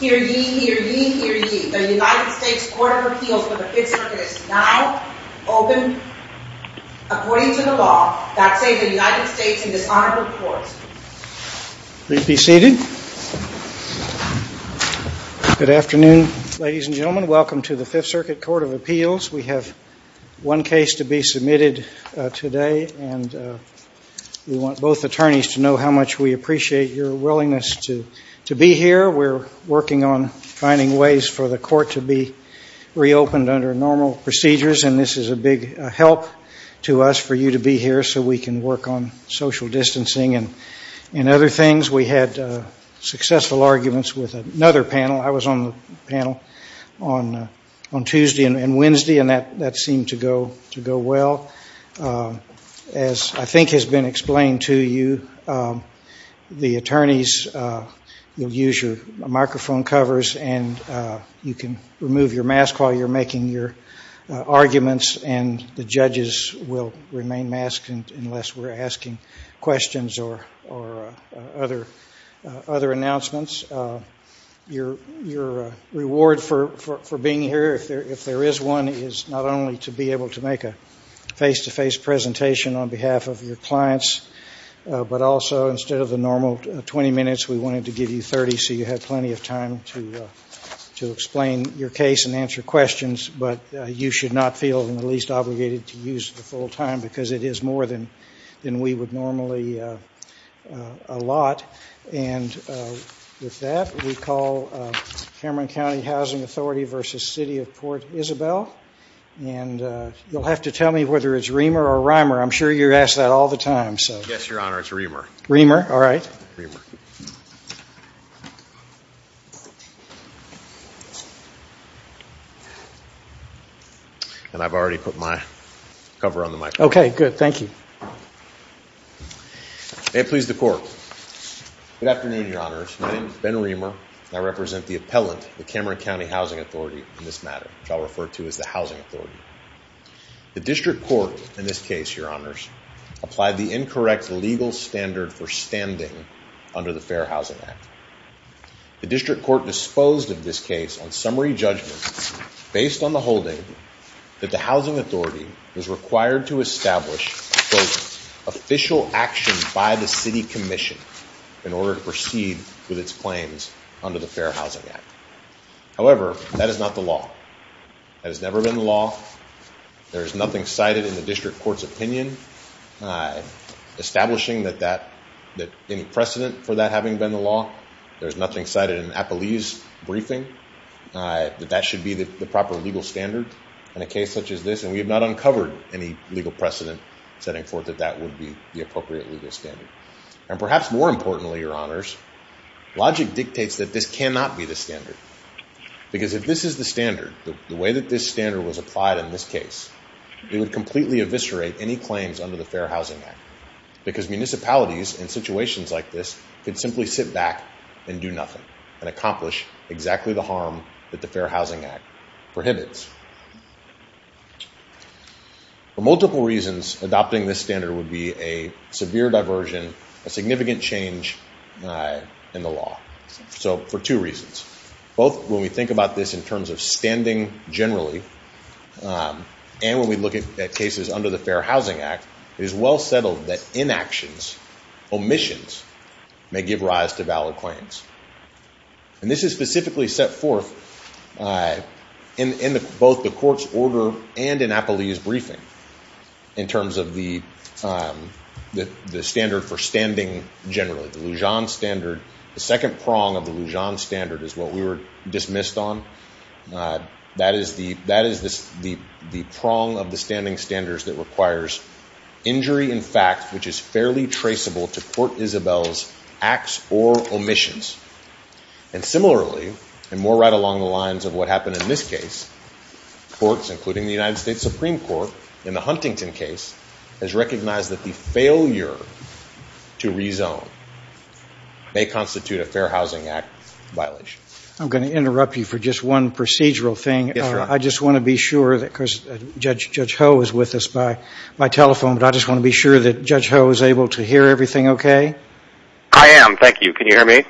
Hear ye, hear ye, hear ye. The United States Court of Appeals for the Fifth Circuit is now open according to the law. That says the United States in dishonorable court. Please be seated. Good afternoon, ladies and gentlemen. Welcome to the Fifth Circuit Court of Appeals. We have one case to be submitted today, and we want both attorneys to know how much we appreciate your willingness to be here. We're working on finding ways for the court to be reopened under normal procedures, and this is a big help to us for you to be here so we can work on social distancing and other things. We had successful arguments with another panel. I was on the panel on Tuesday and Wednesday, and that seemed to go well. As I think has been explained to you, the attorneys will use your microphone covers, and you can remove your mask while you're making your arguments, and the judges will remain masked unless we're asking questions or other announcements. Your reward for being here, if there is one, is not only to be able to make a face-to-face presentation on behalf of your clients, but also instead of the normal 20 minutes, we wanted to give you 30 so you have plenty of time to explain your case and answer questions, but you should not feel the least obligated to use the full time because it is more than we would normally allot. With that, we call Cameron County Housing Authority v. City of Port Isabel, and you'll have to tell me whether it's Reamer or Reimer. I'm sure you're asked that all the time. Yes, Your Honor, it's Reamer. Reamer? All right. Reamer. And I've already put my cover on the microphone. Okay, good. Thank you. May it please the Court. Good afternoon, Your Honors. My name is Ben Reamer, and I represent the appellant, the Cameron County Housing Authority, in this matter, which I'll refer to as the Housing Authority. The district court in this case, Your Honors, applied the incorrect legal standard for standing under the Fair Housing Act. The district court disposed of this case on summary judgment based on the holding that the housing authority was required to establish, quote, official action by the city commission in order to proceed with its claims under the Fair Housing Act. However, that is not the law. That has never been the law. There is nothing cited in the district court's opinion establishing that any precedent for that having been the law. There is nothing cited in Appalee's briefing that that should be the proper legal standard in a case such as this, and we have not uncovered any legal precedent setting forth that that would be the appropriate legal standard. And perhaps more importantly, Your Honors, logic dictates that this cannot be the standard, because if this is the standard, the way that this standard was applied in this case, it would completely eviscerate any claims under the Fair Housing Act, because municipalities in situations like this could simply sit back and do nothing and accomplish exactly the harm that the Fair Housing Act prohibits. For multiple reasons, adopting this standard would be a severe diversion, a significant change in the law. So for two reasons, both when we think about this in terms of standing generally and when we look at cases under the Fair Housing Act, it is well settled that inactions, omissions, may give rise to valid claims. And this is specifically set forth in both the court's order and in Appalee's briefing in terms of the standard for standing generally, the Lujan standard. The second prong of the Lujan standard is what we were dismissed on. That is the prong of the standing standards that requires injury in fact, which is fairly traceable to Court Isabel's acts or omissions. And similarly, and more right along the lines of what happened in this case, courts, including the United States Supreme Court in the Huntington case, has recognized that the failure to rezone may constitute a Fair Housing Act violation. I'm going to interrupt you for just one procedural thing. Yes, Your Honor. I just want to be sure, because Judge Ho is with us by telephone, but I just want to be sure that Judge Ho is able to hear everything okay. I am. Thank you. Can you hear me?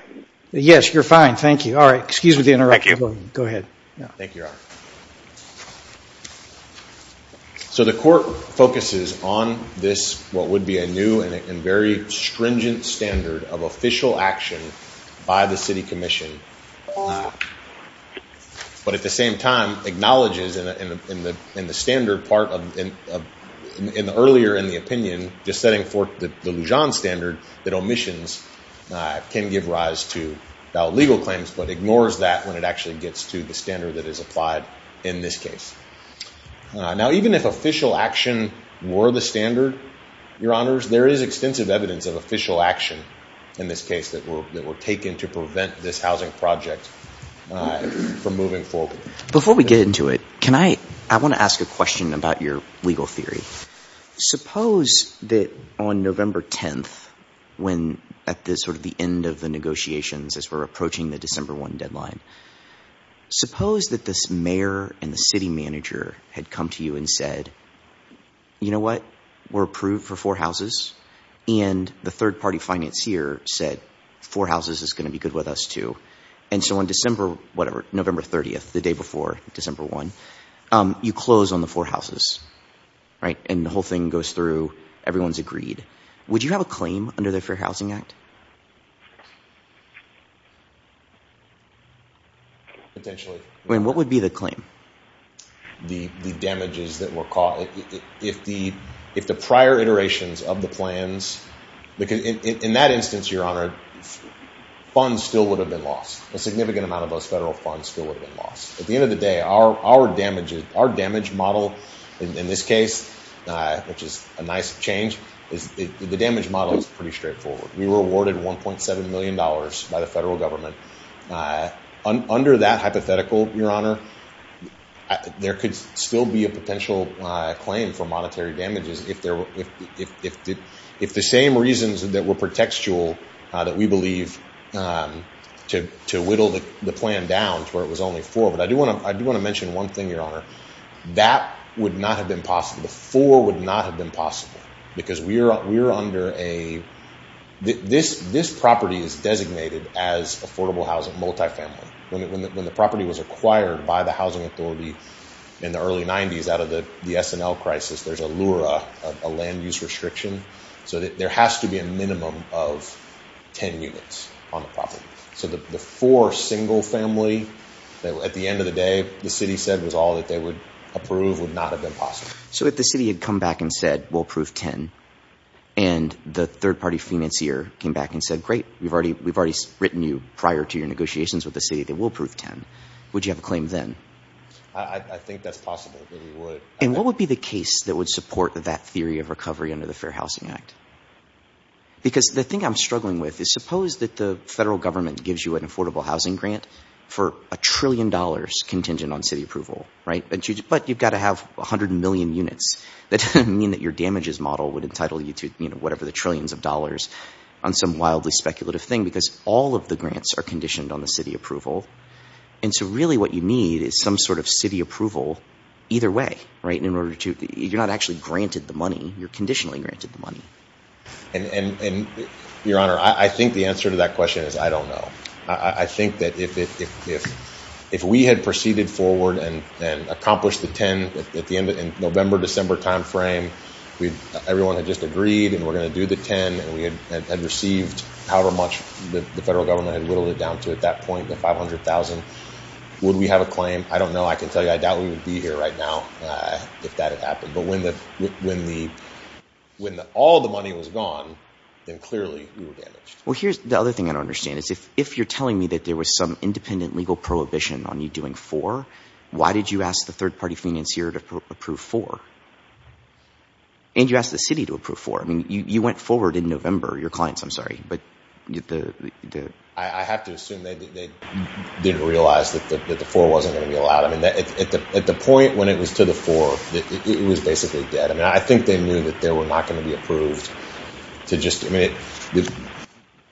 Yes, you're fine. Thank you. All right. Excuse me for the interruption. Thank you. Go ahead. Thank you, Your Honor. So the court focuses on this, what would be a new and very stringent standard of official action by the city commission, but at the same time acknowledges in the standard part, earlier in the opinion, just setting forth the Lujan standard, that omissions can give rise to valid legal claims, but ignores that when it actually gets to the standard that is applied in this case. Now, even if official action were the standard, Your Honors, there is extensive evidence of official action in this case that were taken to prevent this housing project from moving forward. Before we get into it, I want to ask a question about your legal theory. Suppose that on November 10th, when at this sort of the end of the negotiations, as we're approaching the December 1 deadline, suppose that this mayor and the city manager had come to you and said, you know what, we're approved for four houses, and the third party financier said four houses is going to be good with us too. And so on December, whatever, November 30th, the day before December 1, you close on the four houses, right? And the whole thing goes through, everyone's agreed. Would you have a claim under the Fair Housing Act? Potentially. I mean, what would be the claim? The damages that were caused. If the prior iterations of the plans, because in that instance, Your Honor, funds still would have been lost. A significant amount of those federal funds still would have been lost. At the end of the day, our damage model in this case, which is a nice change, the damage model is pretty straightforward. We were awarded $1.7 million by the federal government. Under that hypothetical, Your Honor, there could still be a potential claim for monetary damages if the same reasons that were pretextual that we believe to whittle the plan down to where it was only four. But I do want to mention one thing, Your Honor. That would not have been possible. The four would not have been possible because we are under a, this property is designated as affordable housing multifamily. When the property was acquired by the housing authority in the early 90s out of the S&L crisis, there's a LURA, a land use restriction. So there has to be a minimum of 10 units on the property. So the four single family, at the end of the day, what the city said was all that they would approve would not have been possible. So if the city had come back and said, we'll prove 10, and the third party financier came back and said, great, we've already, we've already written you prior to your negotiations with the city that will prove 10. Would you have a claim then? I think that's possible. And what would be the case that would support that theory of recovery under the fair housing act? Because the thing I'm struggling with is suppose that the federal government gives you an affordable housing grant for a trillion dollars contingent on city approval, right? But you've got to have a hundred million units. That doesn't mean that your damages model would entitle you to, you know, whatever the trillions of dollars on some wildly speculative thing, because all of the grants are conditioned on the city approval. And so really what you need is some sort of city approval either way, right? And in order to, you're not actually granted the money, you're conditionally granted the money. And your honor, I think the answer to that question is, I don't know. I think that if, if, if, if we had proceeded forward and accomplished the 10 at the end of November, December timeframe, we'd everyone had just agreed and we're going to do the 10 and we had, had received however much the federal government had whittled it down to at that point, the 500,000, would we have a claim? I don't know. I can tell you, I doubt we would be here right now if that had happened, but when the, when the, when the, all the money was gone, then clearly we were damaged. Well, here's the other thing I don't understand is if, if you're telling me that there was some independent legal prohibition on you doing four, why did you ask the third party finance here to approve four and you asked the city to approve four? I mean, you, you went forward in November, your clients, I'm sorry, but the, the, the, I have to assume they didn't realize that the, that the four wasn't going to be allowed. I mean, that at the, I think they knew that there were not going to be approved to just, I mean,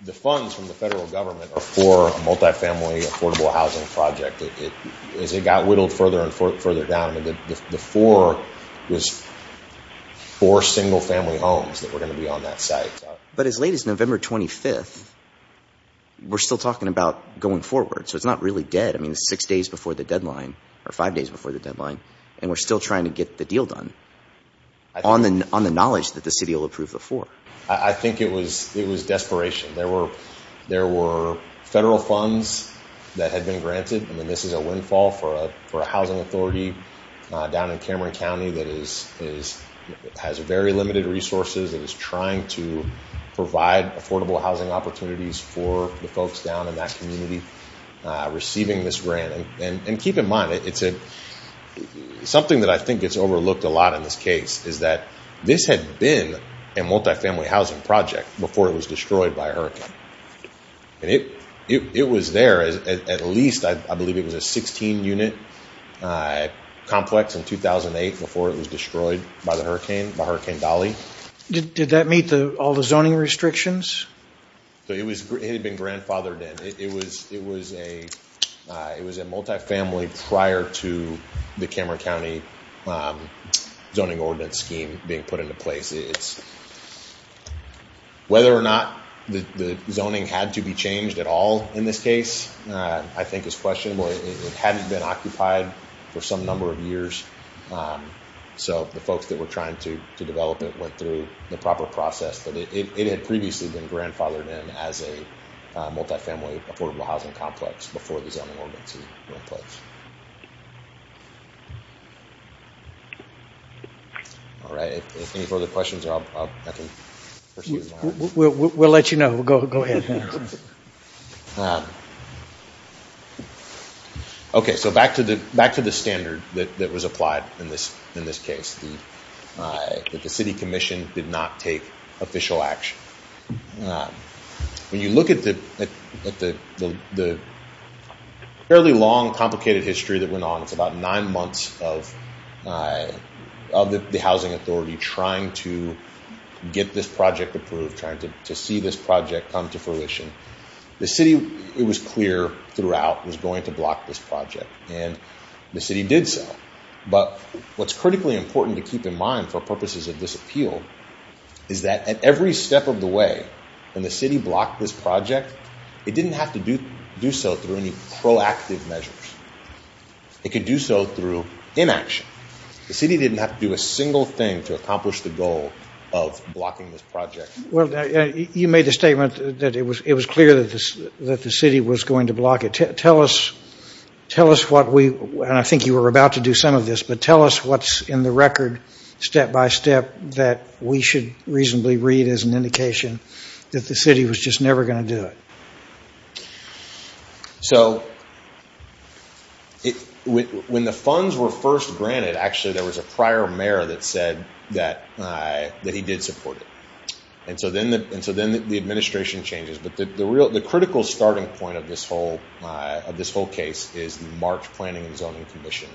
the funds from the federal government are for a multifamily affordable housing project. It is, it got whittled further and further down. I mean, the, the four was four single family homes that were going to be on that site. But as late as November 25th, we're still talking about going forward. So it's not really dead. I mean, the six days before the deadline or five days before the deadline, and we're still trying to get the deal done on the, on the knowledge that the city will approve the four. I think it was, it was desperation. There were, there were federal funds that had been granted. I mean, this is a windfall for a, for a housing authority down in Cameron County that is, is, has a very limited resources. It was trying to provide affordable housing opportunities for the folks down in that community, uh, receiving this grant. And, and, and keep in mind, it's a something that I think gets overlooked a lot in this case is that this had been a multifamily housing project before it was destroyed by a hurricane. And it, it, it was there as at least, I believe it was a 16 unit, uh, complex in 2008 before it was destroyed by the hurricane, by hurricane Dolly. Did that meet the, all the zoning restrictions? So it was, it had been grandfathered in. It was, it was a, uh, it was a multifamily prior to the Cameron County, um, zoning ordinance scheme being put into place. It's whether or not the, the zoning had to be changed at all in this case, uh, I think is questionable. It hadn't been occupied for some number of years. Um, so the folks that were trying to develop it went through the proper process, but it had previously been grandfathered in as a, uh, affordable housing complex before the zoning ordinance was put in place. All right. If there's any further questions, I'll, I'll, I can proceed. We'll let you know. Go ahead. Okay. So back to the, back to the standard that was applied in this, in this case, the, uh, that the city commission did not take official action. Um, when you look at the, at the, the, the, the fairly long complicated history that went on, it's about nine months of, uh, of the housing authority, trying to get this project approved, trying to see this project come to fruition. The city, it was clear throughout was going to block this project and the city did so. But what's critically important to keep in mind for purposes of this appeal is that at every step of the way, when the city blocked this project, it didn't have to do, do so through any proactive measures. It could do so through inaction. The city didn't have to do a single thing to accomplish the goal of blocking this project. You made a statement that it was, it was clear that this, that the city was going to block it. Tell us, tell us what we, and I think you were about to do some of this, but tell us what's in the record step-by-step that we should reasonably read as an indication that the city was just never going to do it. So it, when the funds were first granted, actually there was a prior mayor that said that, uh, that he did support it. And so then the, and so then the administration changes, but the, the real, the critical starting point of this whole, uh, of this whole case is March planning and zoning commission.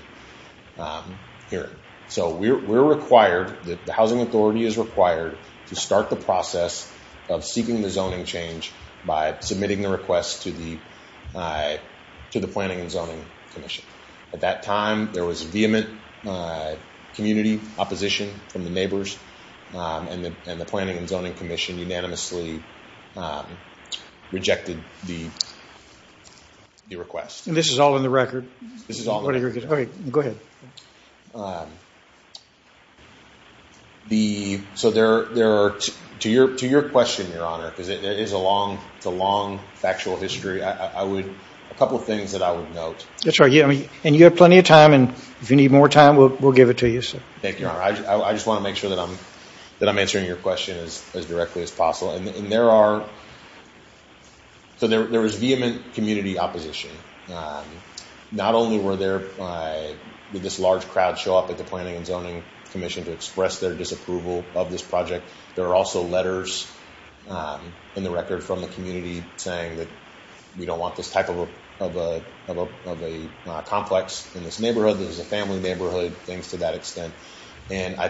Um, here. So we're, we're required that the housing authority is required to start the process of seeking the zoning change by submitting the request to the, uh, to the planning and zoning commission. At that time, there was vehement, uh, community opposition from the neighbors, um, and the, and the planning and zoning commission unanimously, um, rejected the, the request. And this is all in the record? This is all in the record. Okay. Go ahead. Um, the, so there, there are, to your, to your question, Your Honor, because it is a long, it's a long factual history. I would, a couple of things that I would note. That's right. Yeah. I mean, and you have plenty of time and if you need more time, we'll, we'll give it to you. Thank you, Your Honor. I just want to make sure that I'm, that I'm answering your question as, as directly as possible. And there are, so there, there was vehement community opposition. Um, not only were there, uh, with this large crowd show up at the planning and zoning commission to express their disapproval of this project. There are also letters, um, in the record from the community saying that we don't want this type of a, of a, of a, of a, uh, complex in this neighborhood. There's a family neighborhood things to that extent. And I,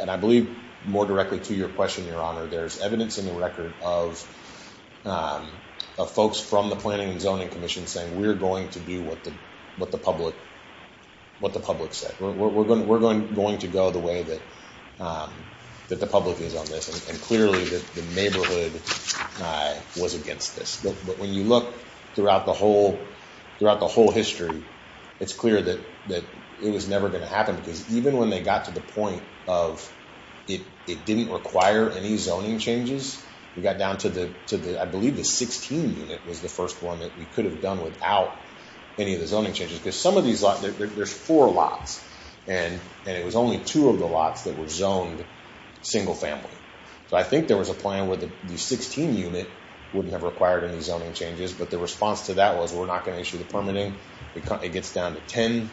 and I believe more directly to your question, Your Honor, there's evidence in the record of, um, of folks from the planning and zoning commission saying we're going to do what the, what the public, what the public said, we're, we're, we're going, we're going to go the way that, um, that the public is on this. And clearly the neighborhood, uh, was against this. But when you look throughout the whole, throughout the whole history, it's clear that, that it was never going to happen because even when they got to the point of it, it didn't require any zoning changes. We got down to the, to the, I believe the 16 unit was the first one that we could have done without any of the zoning changes because some of these lots, there's four lots and, and it was only two of the lots that were zoned single family. So I think there was a plan where the 16 unit wouldn't have required any zoning changes, but the response to that was, we're not going to issue the permitting. It gets down to 10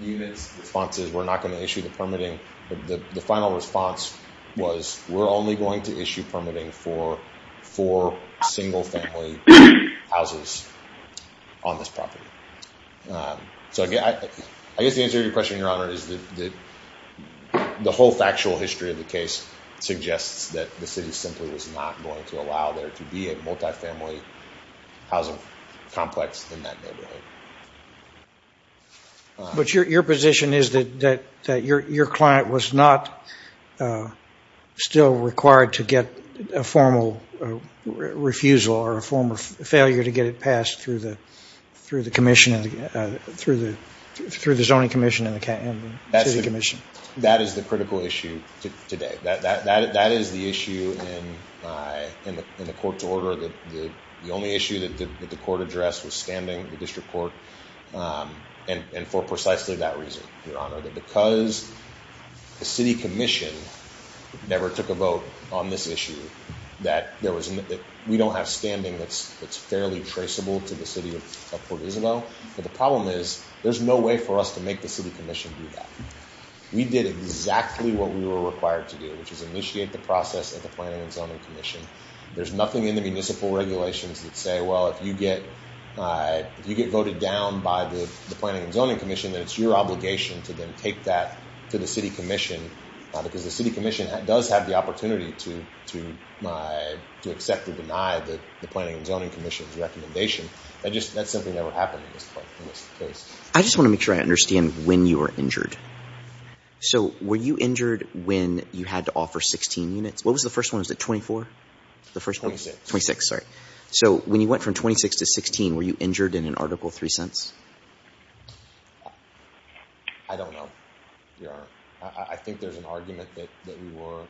units responses. We're not going to issue the permitting. But the final response was we're only going to issue permitting for four single family houses on this property. Um, so I guess the answer to your question, your honor, is that the, the whole factual history of the case suggests that the city simply was not going to allow there to be a multifamily housing complex in that neighborhood. Uh, But your, your position is that, that, that your, your client was not, uh, still required to get a formal refusal or a form of failure to get it passed through the, through the commission, uh, through the, through the zoning commission and the city commission. That is the critical issue today. That, that, that, that is the issue in, uh, in the, in the court's order. The only issue that the court addressed was standing the district court. Um, and for precisely that reason, your honor, that because the city commission never took a vote on this issue, that there was, that we don't have standing. That's it's fairly traceable to the city of Port Isabel. But the problem is there's no way for us to make the city commission do that. We did exactly what we were required to do, which is initiate the process at the planning and zoning commission. There's nothing in the municipal regulations that say, well, if you get, uh, if you get voted down by the planning and zoning commission, that it's your obligation to then take that to the city commission, uh, because the city commission does have the opportunity to, to, uh, to accept or deny the planning and zoning commission's recommendation. That just, that's something that would happen in this case. I just want to make sure I understand when you were injured. So were you injured when you had to offer 16 units? What was the first one? Was it 24? The first 26, sorry. So when you went from 26 to 16, were you injured in an article three cents? I don't know. There are, I think there's an argument that, that we were,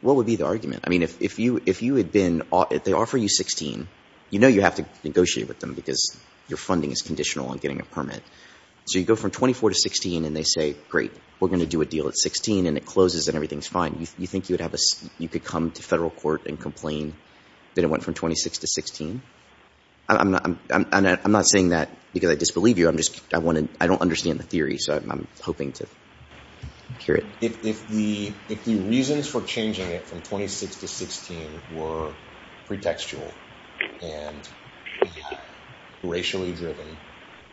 what would be the argument? I mean, if, if you, if you had been, they offer you 16, you know, you have to negotiate with them because your funding is conditional on getting a permit. So you go from 24 to 16 and they say, great, we're going to do a deal at 16 and it closes and everything's fine. Do you think you would have a, you could come to federal court and complain that it went from 26 to 16? I'm not, I'm not, I'm not saying that because I disbelieve you. I'm just, I want to, I don't understand the theory. So I'm hoping to hear it. If, if the, if the reasons for changing it from 26 to 16 were pretextual and racially driven,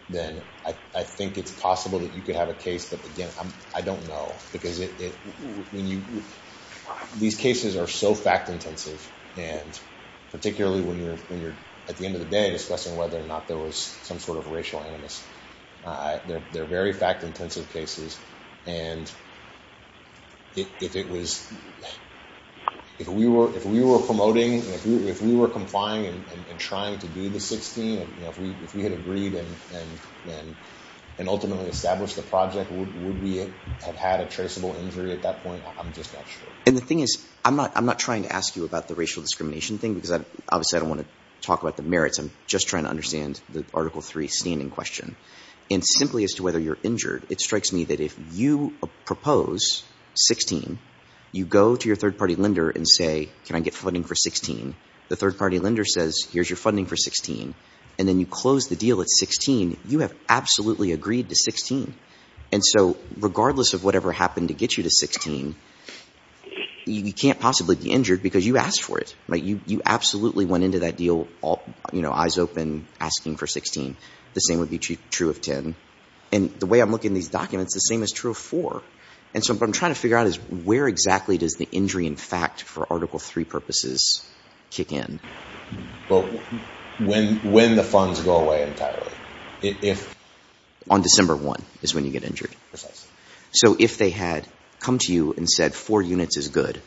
then I think it's possible that you could have a case that again, I'm, no, because it, when you, these cases are so fact intensive and particularly when you're, when you're at the end of the day discussing whether or not there was some sort of racial animus, they're, they're very fact intensive cases. And if it was, if we were, if we were promoting, if we were complying and trying to do the 16, you know, if we, if we had agreed and, and, and, and ultimately established the project, would we have had a traceable injury at that point? I'm just not sure. And the thing is, I'm not, I'm not trying to ask you about the racial discrimination thing, because obviously I don't want to talk about the merits. I'm just trying to understand the article three standing question. And simply as to whether you're injured, it strikes me that if you propose 16, you go to your third party lender and say, can I get funding for 16? The third party lender says, here's your funding for 16. And then you close the deal at 16. You have absolutely agreed to 16. And so regardless of whatever happened to get you to 16, you can't possibly be injured because you asked for it, right? You, you absolutely went into that deal, you know, eyes open asking for 16. The same would be true of 10. And the way I'm looking at these documents, the same is true of four. And so what I'm trying to figure out is where exactly does the injury in fact for article three purposes kick in? Well, when, when the funds go away entirely, if. On December one is when you get injured. So if they had come to you and said four units is good.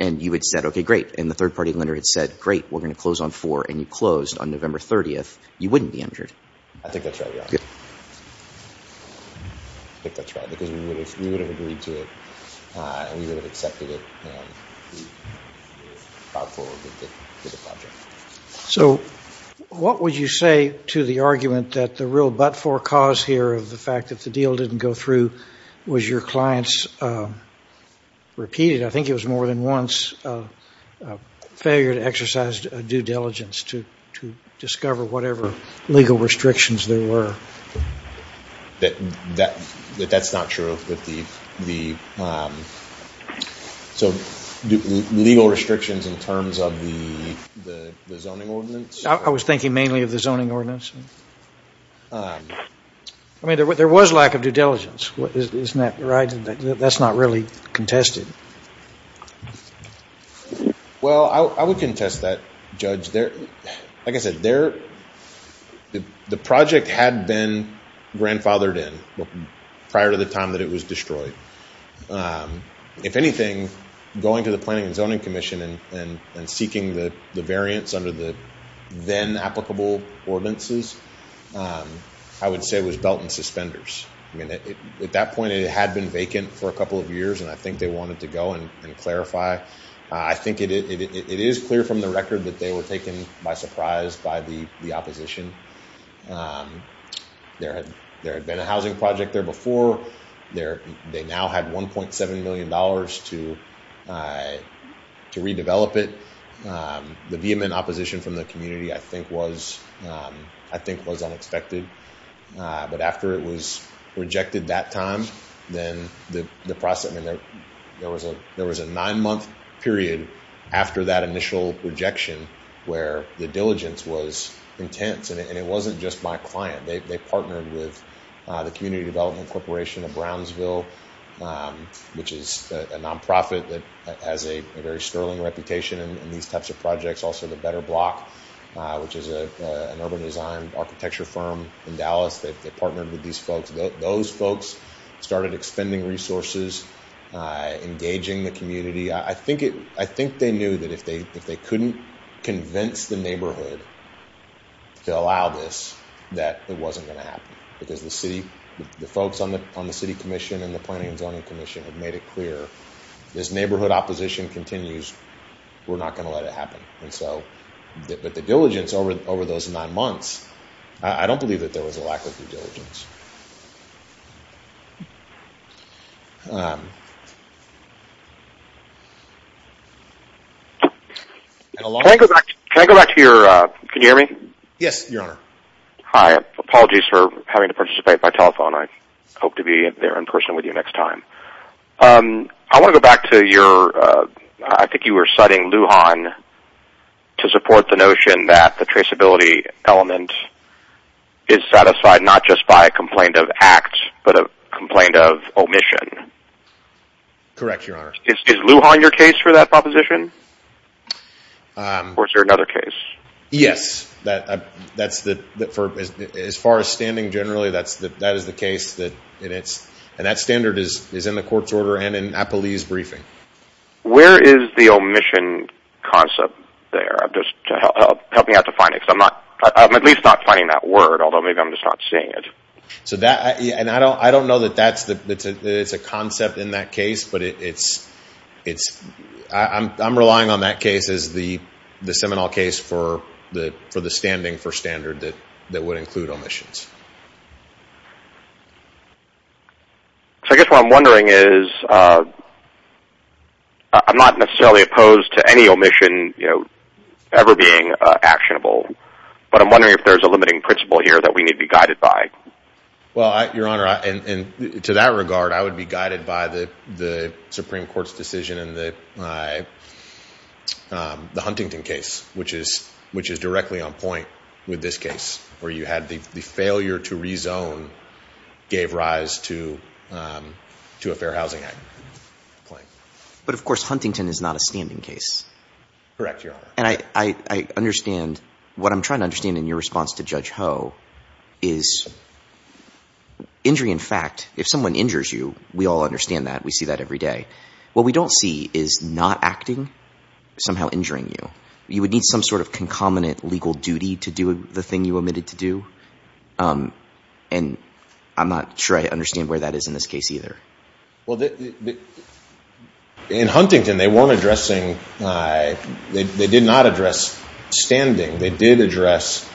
And you had said, okay, great. And the third party lender had said, great, we're going to close on four. And you closed on November 30th. You wouldn't be injured. I think that's right. I think that's right, because we would have, we would have agreed to it. And we would have accepted it. So what would you say to the argument that the real but for cause here of the fact that the deal didn't go through was your clients repeated? I think it was more than once a failure to exercise due diligence to, to discover whatever legal restrictions there were. That, that, that that's not true with the, the. So legal restrictions in terms of the, the, the zoning ordinance. I was thinking mainly of the zoning ordinance. I mean, there was, there was lack of due diligence. Isn't that right? That's not really contested. Well, I would contest that judge there. Like I said, there, the project had been grandfathered in prior to the time that it was destroyed. If anything, going to the planning and zoning commission and, and seeking the variance under the then applicable ordinances, I would say it was belt and suspenders. I mean, at that point it had been vacant for a couple of years, and I think they wanted to go and clarify. I think it is clear from the record that they were taken by surprise by the, the opposition. There had, there had been a housing project there before there, they now had $1.7 million to, to redevelop it. The vehement opposition from the community, I think was, I think was unexpected. But after it was rejected that time, then the, the process, I mean, there, there was a, there was a nine month period after that initial rejection where the diligence was intense and it wasn't just my client. They partnered with the community development corporation of Brownsville, which is a nonprofit that has a very sterling reputation in these types of projects. Also the better block, which is a, an urban design architecture firm in Dallas. They partnered with these folks. Those folks started expending resources, engaging the community. I think it, I think they knew that if they, if they couldn't convince the neighborhood to allow this, that it wasn't going to happen because the city, the folks on the city commission and the planning and zoning commission had made it clear this neighborhood opposition continues. We're not going to let it happen. And so, but the diligence over, over those nine months, I don't believe that there was a lack of due diligence. Can I go back to your, can you hear me? Yes, your honor. Hi. Apologies for having to participate by telephone. I hope to be there in person with you next time. I want to go back to your, I think you were citing Lujan to support the notion that the traceability element is satisfied, not just by a complaint of act, but a complaint of omission. Correct. Your honor. Is Lujan your case for that proposition? Or is there another case? Yes, that, that's the, for, as, as far as standing generally, that's the, that is the case that it's, and that standard is, is in the court's order and in Applebee's briefing. Where is the omission concept there? I'm just helping out to find it. Cause I'm not, I'm at least not finding that word, although maybe I'm just not seeing it. So that, and I don't, I don't know that that's the, it's a concept in that case, but it's it's I I'm, I'm relying on that case is the, the Seminole case for the, for the standing for standard that, that would include omissions. So I guess what I'm wondering is I'm not necessarily opposed to any omission, you know, ever being actionable, but I'm wondering if there's a limiting principle here that we need to be guided by. Well, I, your honor, and to that regard, I would be guided by the, the Supreme court's decision and the, the Huntington case, which is, which is directly on point with this case where you had the failure to rezone gave rise to to a fair housing act. But of course, Huntington is not a standing case. Correct. Your honor. And I, I, I understand what I'm trying to understand in your response to judge Ho is injury. In fact, if someone injures you, we all understand that we see that every day. What we don't see is not acting somehow injuring you. You would need some sort of concomitant legal duty to do the thing you omitted to do. And I'm not sure I understand where that is in this case either. Well, in Huntington, they weren't addressing, they did not address standing. They did address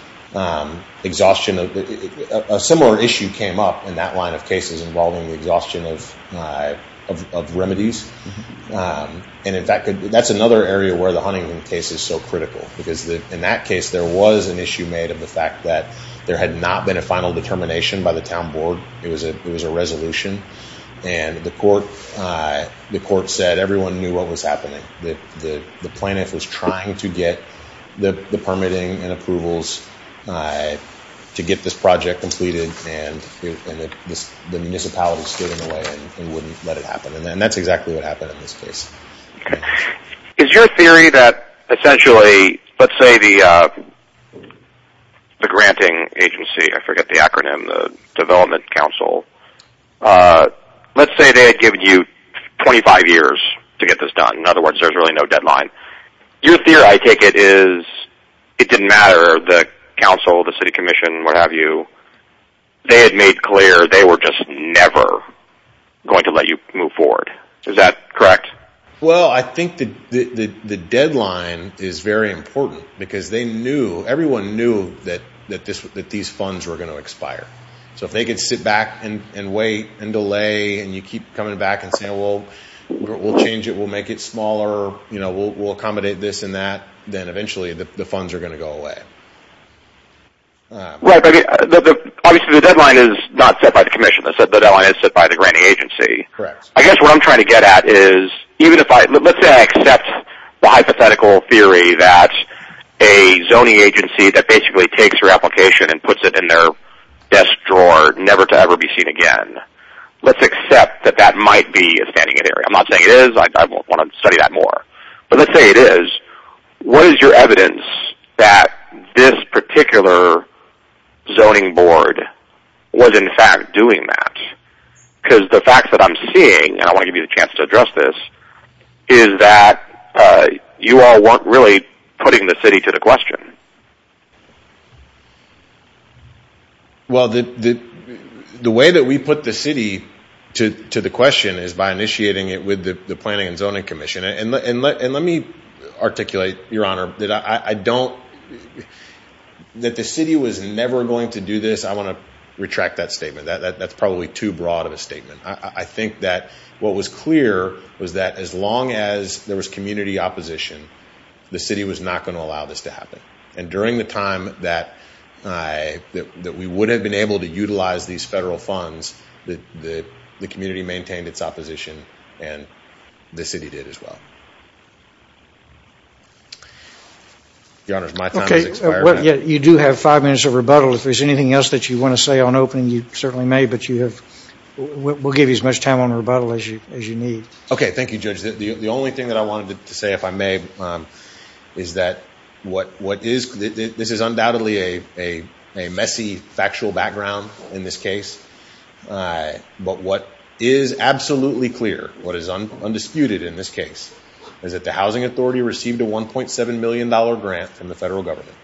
exhaustion of a similar issue came up in that line of cases involving the exhaustion of, of, of remedies. And in fact, that's another area where the Huntington case is so critical because the, in that case, there was an issue made of the fact that there had not been a final determination by the town board. It was a, it was a resolution and the court, the court said everyone knew what was happening, that the plaintiff was trying to get the, the permitting and approvals to get this project completed and the municipality stood in the way and wouldn't let it happen. And then that's exactly what happened in this case. Is your theory that essentially, let's say the, the granting agency, I forget the acronym, the development council, let's say they had given you 25 years to get this done. In other words, there's really no deadline. Your theory, I take it is it didn't matter. The council, the city commission, what have you, they had made clear, they were just never going to let you move forward. Is that correct? Well, I think the, the, the deadline is very important because they knew everyone knew that, that this, that these funds were going to expire. So if they could sit back and wait and delay and you keep coming back and say, well, we'll change it. We'll make it smaller. You know, we'll accommodate this and that. Then eventually the funds are going to go away. Right. But the, the, obviously the deadline is not set by the commission. The deadline is set by the granting agency. I guess what I'm trying to get at is even if I, let's say I accept the hypothetical theory that a zoning agency that basically takes your application and puts it in their desk drawer, never to ever be seen again. Let's accept that that might be a standing in area. I'm not saying it is. I want to study that more, but let's say it is. What is your evidence that this particular zoning board was in fact doing that? Cause the facts that I'm seeing, and I want to give you the chance to address this is that you all weren't really putting the city to the question. Well, the, the, the way that we put the city to the question is by initiating it with the planning and zoning commission. And let, and let, and let me articulate your honor that I don't, that the city was never going to do this. I want to retract that statement. That's probably too broad of a statement. I think that what was clear was that as long as there was community opposition, the city was not going to allow this to happen. And during the time that I, that we would have been able to utilize these federal funds that the, the community maintained its opposition and the city did as well. Okay. Well, yeah, you do have five minutes of rebuttal. If there's anything else that you want to say on opening, you certainly may, but you have, we'll give you as much time on rebuttal as you, as you need. Okay. Thank you, judge. The only thing that I wanted to say, if I may, is that what, what is, this is undoubtedly a, a, a messy factual background in this case. But what is absolutely clear, what is undisputed in this case, is that the housing authority received a $1.7 million grant from the federal government.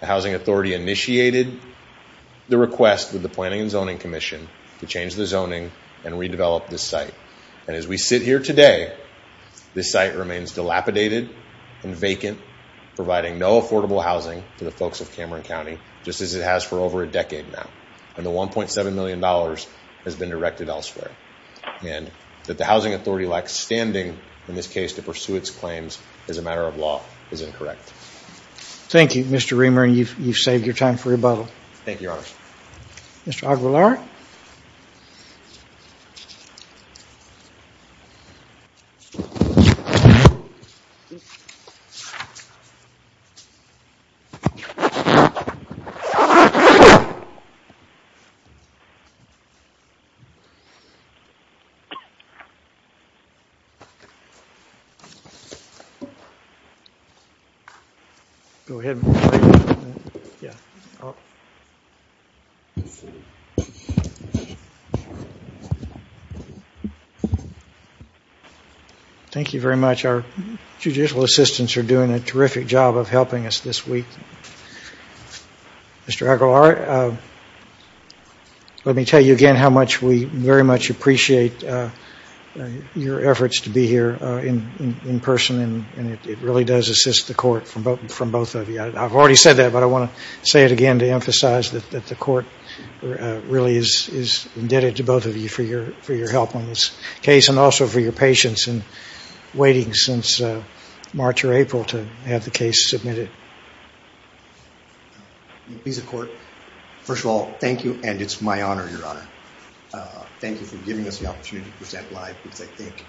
The housing authority initiated the request with the planning and zoning commission to change the zoning and redevelop this site. And as we sit here today, this site remains dilapidated and vacant providing no affordable housing to the folks of Cameron County, just as it has for over a decade now. And the $1.7 million has been directed elsewhere and that the housing authority lacks standing in this case to pursue its claims as a matter of law is incorrect. Thank you, Mr. Reamer. And you've, you've saved your time for rebuttal. Thank you. Mr. Aguilar. Thank you. Go ahead. Thank you very much. Our judicial assistants are doing a terrific job of helping us this week. Mr. Aguilar, let me tell you again how much we very much appreciate your efforts to be here in, in person. And it really does assist the court from both, from both of you. I've already said that, but I want to say it again to emphasize that the court really is, is indebted to both of you for your, for your help on this case. And also for your patience and waiting since March or April to have the case submitted. First of all, thank you. And it's my honor, Your Honor. Thank you for giving us the opportunity to present live, because I think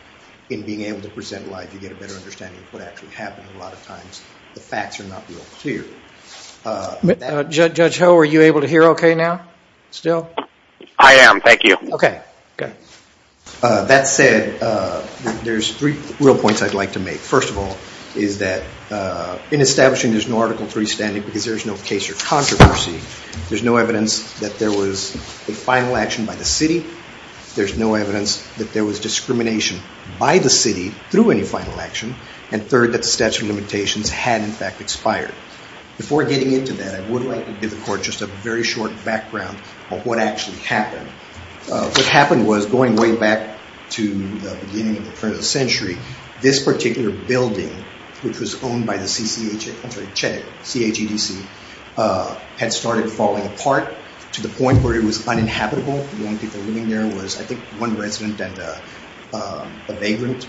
in being able to present live, you get a better understanding of what actually happened. A lot of times the facts are not real clear. Judge Ho, are you able to hear okay now? Still? I am. Thank you. Okay. Good. That said, there's three real points I'd like to make. First of all, is that in establishing there's no article three standing because there is no case or controversy. There's no evidence that there was a final action by the city. There's no evidence that there was discrimination by the city through any final action. And third, that the statute of limitations had in fact expired. Before getting into that, I would like to give the court just a very short background of what actually happened. What happened was going way back to the beginning of the turn of the century, this particular building, which was owned by the CCH, I'm sorry, CHEDC, C-H-E-D-C, had started falling apart to the point where it was uninhabitable. The only people living there was I think one resident and a vagrant.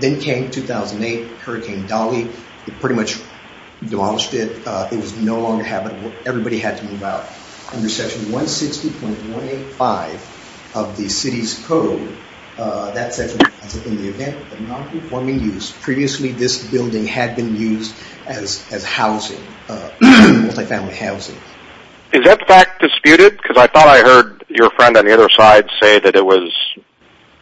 Then came 2008, Hurricane Dolly. It pretty much demolished it. It was no longer habitable. Everybody had to move out. Under section 160.185 of the city's code, that section states that in the event of non-conforming use, previously this building had been used as housing, multifamily housing. Is that fact disputed? Because I thought I heard your friend on the other side say that it was.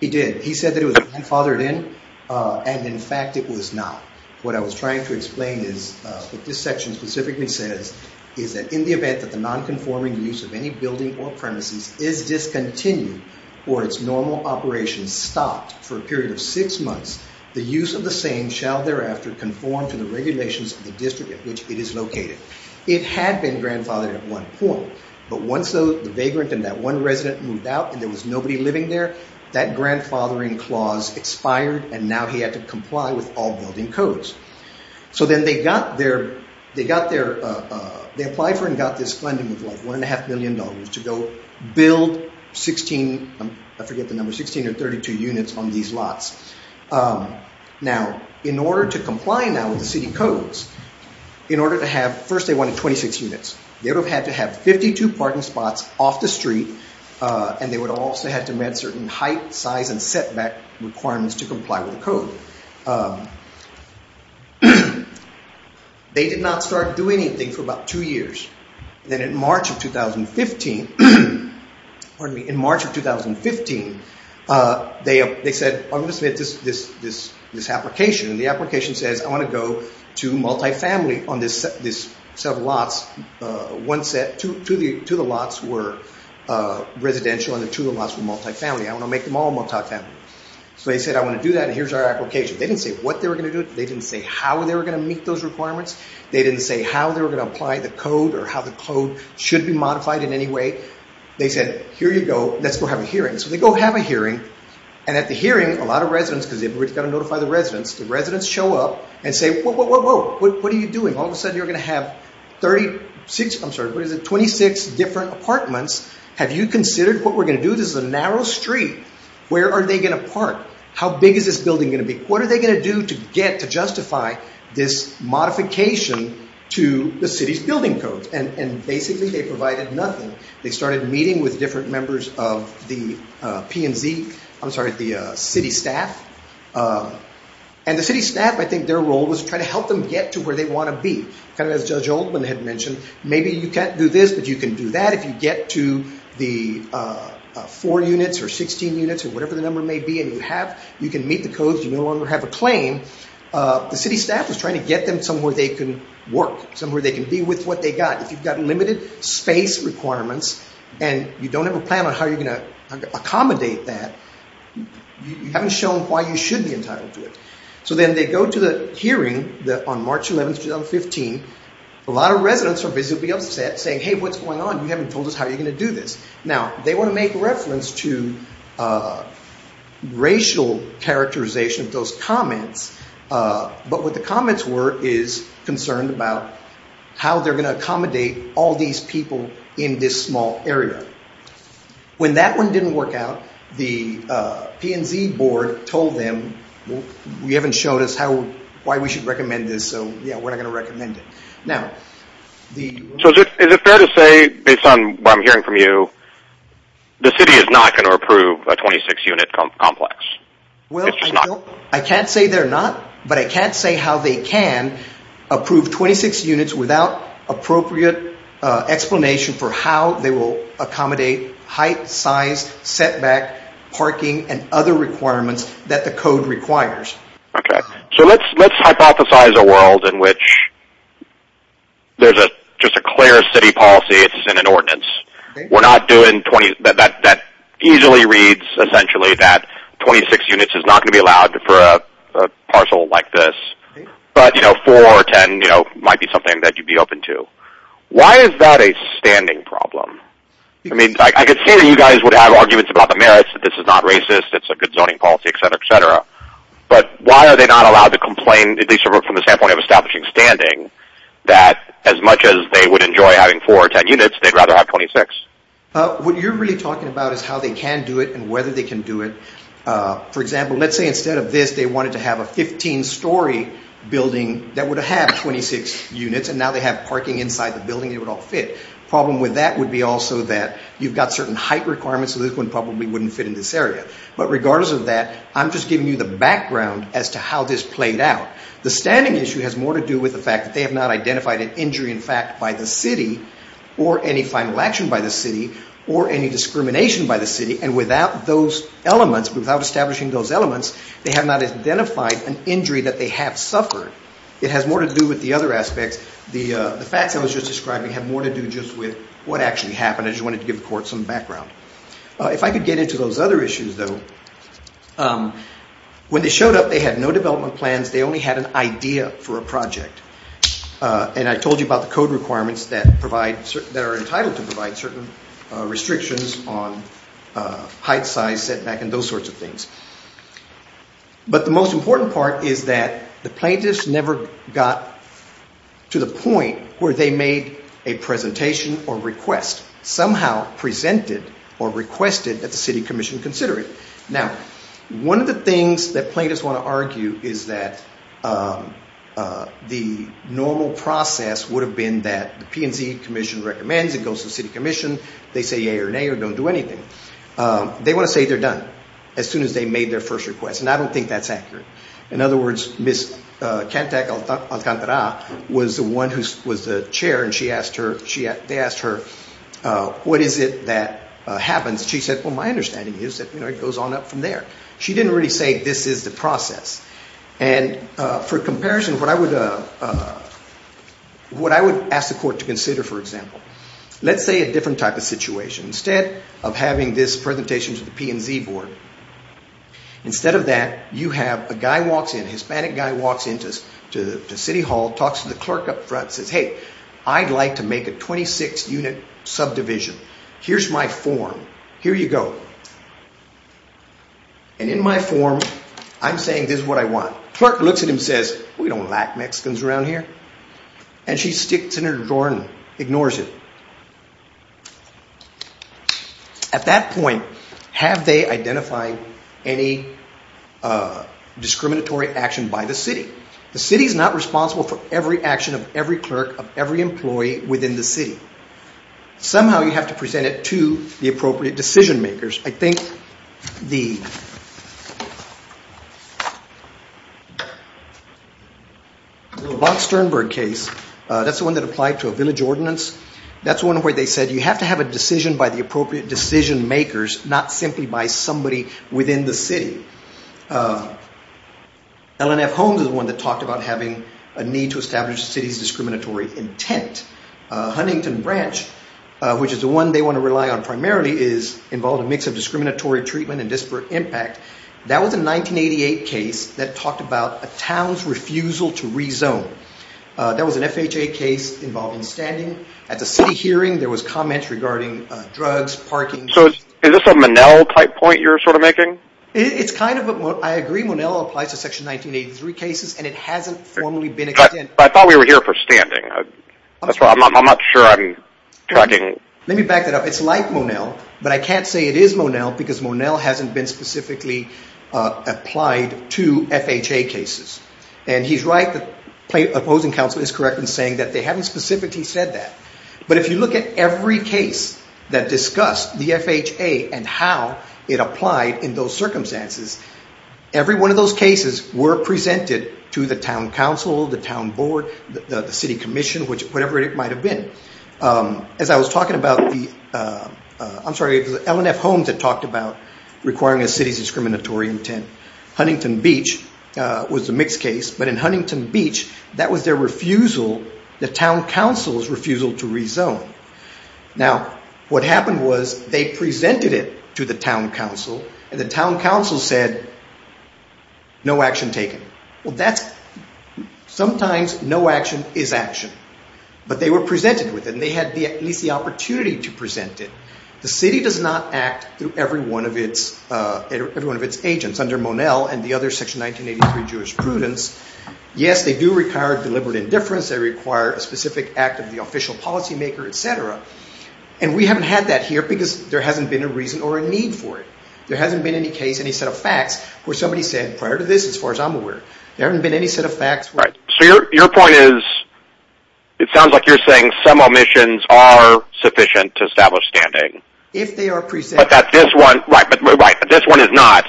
He did. He said that it was grandfathered in. And in fact, it was not. What I was trying to explain is what this section specifically says, is that in the event that the non-conforming use of any building or premises is discontinued or its normal operations stopped for a period of six months, the use of the same shall thereafter conform to the regulations of the district at which it is located. It had been grandfathered at one point, but once the vagrant and that one resident moved out and there was nobody living there, that grandfathering clause expired and now he had to comply with all the building codes. So then they got their, they got their, they applied for and got this funding of like one and a half million dollars to go build 16, I forget the number, 16 or 32 units on these lots. Now, in order to comply now with the city codes, in order to have, first they wanted 26 units. They would have had to have 52 parking spots off the street. And they would also have to met certain height, size, and setback requirements to comply with the code. They did not start doing anything for about two years. Then in March of 2015, pardon me, in March of 2015, they said, I'm going to submit this, this, this, this application. And the application says, I want to go to multifamily on this, this set of lots. One set to the, to the lots were residential and the two of us were multifamily. I want to make them all multifamily. So they said, I want to do that. And here's our application. They didn't say what they were going to do. They didn't say how they were going to meet those requirements. They didn't say how they were going to apply the code or how the code should be modified in any way. They said, here you go. Let's go have a hearing. So they go have a hearing. And at the hearing, a lot of residents, because we've got to notify the residents, the residents show up and say, whoa, whoa, whoa, whoa, what are you doing? All of a sudden you're going to have 36, I'm sorry, what is it? 26 different apartments. Have you considered what we're going to do? This is a narrow street. Where are they going to park? How big is this building going to be? What are they going to do to get to justify this modification to the city's building codes? And basically they provided nothing. They started meeting with different members of the P&Z, I'm sorry, the city staff. And the city staff, I think their role was to try to help them get to where they want to be. Kind of as Judge Oldman had mentioned, maybe you can't do this, but you can do that. If you get to the four units or 16 units or whatever the number may be that you have, you can meet the codes, you no longer have a claim. The city staff is trying to get them somewhere they can work, somewhere they can be with what they've got. If you've got limited space requirements and you don't have a plan on how you're going to accommodate that, you haven't shown why you should be entitled to it. So then they go to the hearing on March 11, 2015, a lot of residents are visibly upset, saying, hey, what's going on? You haven't told us how you're going to do this. Now, they want to make reference to racial characterization of those comments. But what the comments were is concerned about how they're going to accommodate all these people in this small area. When that one didn't work out, the P&Z board told them, you haven't shown us why we should recommend this, so we're not going to recommend it. Is it fair to say, based on what I'm hearing from you, the city is not going to approve a 26-unit complex? I can't say they're not, but I can't say how they can approve 26 units without appropriate explanation for how they will accommodate height, size, setback, parking, and other requirements that the code requires. So let's hypothesize a world in which there's just a clear city policy, it's in an ordinance. That easily reads, essentially, that 26 units is not going to be allowed for a parcel like this. But four or ten might be something that you'd be open to. Why is that a standing problem? I mean, I could see that you guys would have arguments about the merits, that this is not racist, it's a good zoning policy, etc., etc. But why are they not allowed to complain, at least from the standpoint of establishing standing, that as much as they would enjoy having four or ten units, they'd rather have 26? What you're really talking about is how they can do it and whether they can do it. For example, let's say instead of this, they wanted to have a 15-story building that would have 26 units, and now they have parking inside the building and it would all fit. The problem with that would be also that you've got certain height requirements so this one probably wouldn't fit in this area. But regardless of that, the standing issue has more to do with the fact that they have not identified an injury, in fact, by the city or any final action by the city or any discrimination by the city. And without those elements, without establishing those elements, they have not identified an injury that they have suffered. It has more to do with the other aspects. The facts I was just describing have more to do just with what actually happened. I just wanted to give the court some background. If I could get into those other issues, though. When they showed up, they had no development plans. They only had an idea for a project. And I told you about the code requirements that are entitled to provide certain restrictions on height, size, setback, and those sorts of things. But the most important part is that the plaintiffs never got to the point where they made a presentation or request, somehow presented or requested at the city commission considering. Now, one of the things that plaintiffs want to argue is that the normal process would have been that the P&Z commission recommends, it goes to the city commission, they say yay or nay or don't do anything. They want to say they're done as soon as they made their first request. And I don't think that's accurate. In other words, Ms. Cantac-Alcantara was the one who was the chair, and they asked her, what is it that happens? She said, well, my understanding is that it goes on up from there. She didn't really say this is the process. And for comparison, what I would ask the court to consider, for example, let's say a different type of situation. Instead of having this presentation to the P&Z board, instead of that, you have a guy walks in, a Hispanic guy walks into city hall, talks to the clerk up front, says, hey, I'd like to make a 26-unit subdivision. Here's my form. Here you go. And in my form, I'm saying this is what I want. The clerk looks at him and says, we don't lack Mexicans around here. And she sticks it in her drawer and ignores it. At that point, have they identified any discriminatory action by the city? The city is not responsible for every action of every clerk, of every employee within the city. Somehow you have to present it to the appropriate decision makers. I think the... The Lovat-Sternberg case, that's the one that applied to a village ordinance. That's one where they said you have to have a decision by the appropriate decision makers, not simply by somebody within the city. LNF Holmes is the one that talked about having a need to establish the city's discriminatory intent. Huntington Branch, which is the one they want to rely on primarily, is involved in a mix of discriminatory treatment and disparate impact. That was a 1988 case that talked about a town's refusal to rezone. That was an FHA case involved in standing. At the city hearing, there was comment regarding drugs, parking... So is this a Monell type point you're sort of making? It's kind of a... I agree Monell applies to Section 1983 cases and it hasn't formally been... But I thought we were here for standing. I'm not sure I'm... Let me back that up. It's like Monell, but I can't say it is Monell because Monell hasn't been specifically applied to FHA cases. And he's right, the opposing council is correct in saying that they haven't specifically said that. But if you look at every case that discussed the FHA and how it applied in those circumstances, every one of those cases were presented to the town council, the town board, the city commission, as I was talking about the... I'm sorry, LNF homes that talked about requiring a city's discriminatory intent. Huntington Beach was the mixed case, but in Huntington Beach, that was their refusal, the town council's refusal to rezone. Now, what happened was they presented it to the town council and the town council said no action taken. Well, that's... Sometimes no action is action, but they were presented with it and they seized the opportunity to present it. The city does not act through every one of its agents under Monell and the other Section 1983 jurisprudence. Yes, they do require deliberate indifference, they require a specific act of the official policymaker, etc. And we haven't had that here because there hasn't been a reason or a need for it. There hasn't been any case, any set of facts where somebody said prior to this, as far as I'm aware, that they are sufficient to establish standing. Right, but this one is not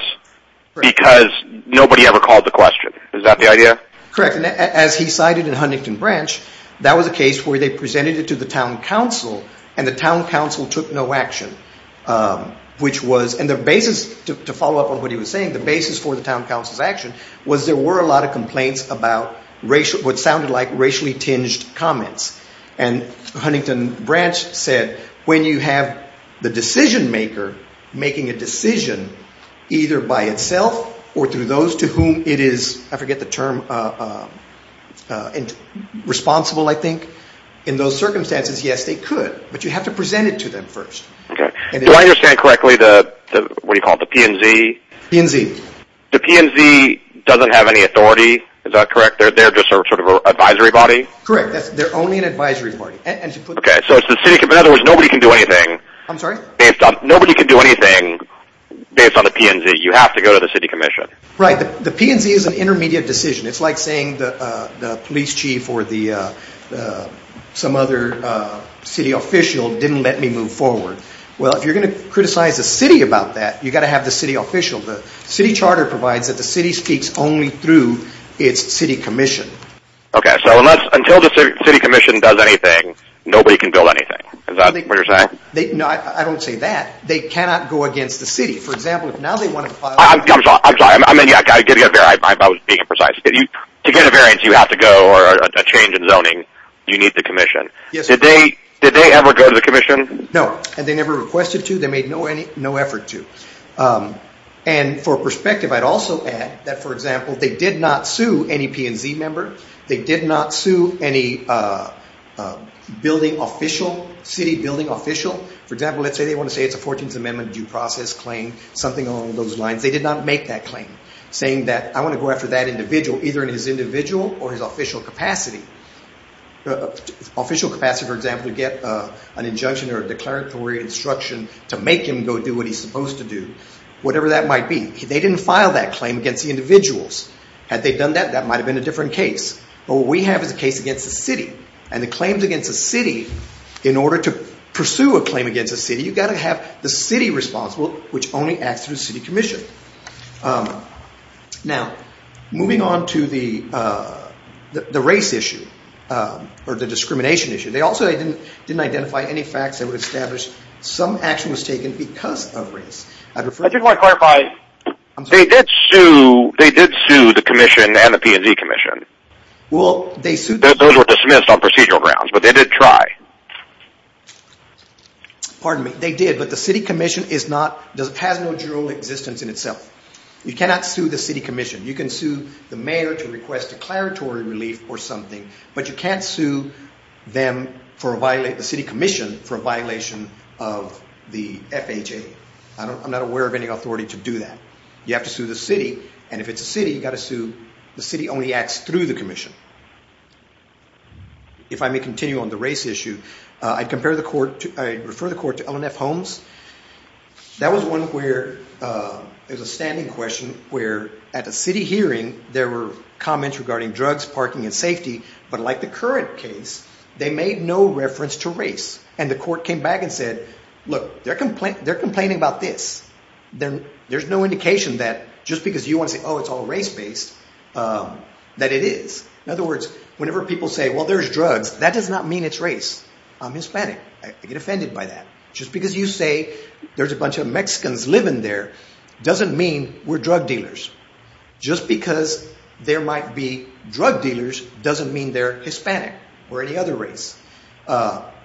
because nobody ever called the question. Is that the idea? Correct. And as he cited in Huntington Branch, that was a case where they presented it to the town council and the town council took no action. And the basis, to follow up on what he was saying, the basis for the town council's action was there were a lot of complaints about what sounded like racially tinged comments. And Huntington Branch said when you have the decision maker making a decision either by itself or through those to whom it is, I forget the term, responsible, I think, in those circumstances, yes, they could. But you have to present it to them first. Okay. Do I understand correctly the, what do you call it, the P&Z? P&Z. The P&Z doesn't have any authority, correct? They're just sort of an advisory body? Correct. They're only an advisory body. Okay. So it's the city, in other words, nobody can do anything based on the P&Z. You have to go to the city commission. Right. The P&Z is an intermediate decision. It's like saying the police chief or some other city official didn't let me move forward. Well, if you're going to criticize the city about that, you've got to have the city official. The city charter provides the city commission. Okay. So until the city commission does anything, nobody can build anything. Is that what you're saying? No, I don't say that. They cannot go against the city. For example, if now they wanted to file... I'm sorry. I'm going to get very precise. To get a variance, you have to go or a change in zoning, you need the commission. Did they ever go to the commission? No. And they never requested to. They made no effort to. And for perspective, I'd also add the P&Z member, they did not sue any building official, city building official. For example, let's say they want to say it's a 14th Amendment due process claim, something along those lines. They did not make that claim, saying that I want to go after that individual either in his individual or his official capacity. Official capacity, for example, to get an injunction or a declaratory instruction to make him go do what he's supposed to do, whatever that might be. That's a different case. But what we have is a case against a city. And the claims against a city, in order to pursue a claim against a city, you've got to have the city responsible, which only acts through the city commission. Now, moving on to the race issue or the discrimination issue. They also didn't identify any facts that would establish some action was taken because of race. I'd refer... I just want to clarify, they did sue the commission and the P&Z commission. Well, they sued... Those were dismissed on procedural grounds, but they did try. Pardon me. They did, but the city commission has no dual existence in itself. You cannot sue the city commission. You can sue the mayor to request declaratory relief or something, but you can't sue the city commission for a violation of the FHA. I'm not aware of any authority to do that. You have to sue the city, and if it's a city, you've got to sue... The city only acts through the commission. If I may continue on the race issue, I'd compare the court... I'd refer the court to L&F Holmes. That was one where there was a standing question where at a city hearing, there were comments regarding drugs, parking, and safety, but like the current case, they made no reference to race, and the court came back and said, there's no indication that just because you want to say, oh, it's all race-based, that it is. In other words, whenever people say, well, there's drugs, that does not mean it's race. I'm Hispanic. I get offended by that. Just because you say there's a bunch of Mexicans living there doesn't mean we're drug dealers. Just because there might be drug dealers doesn't mean they're Hispanic or any other race.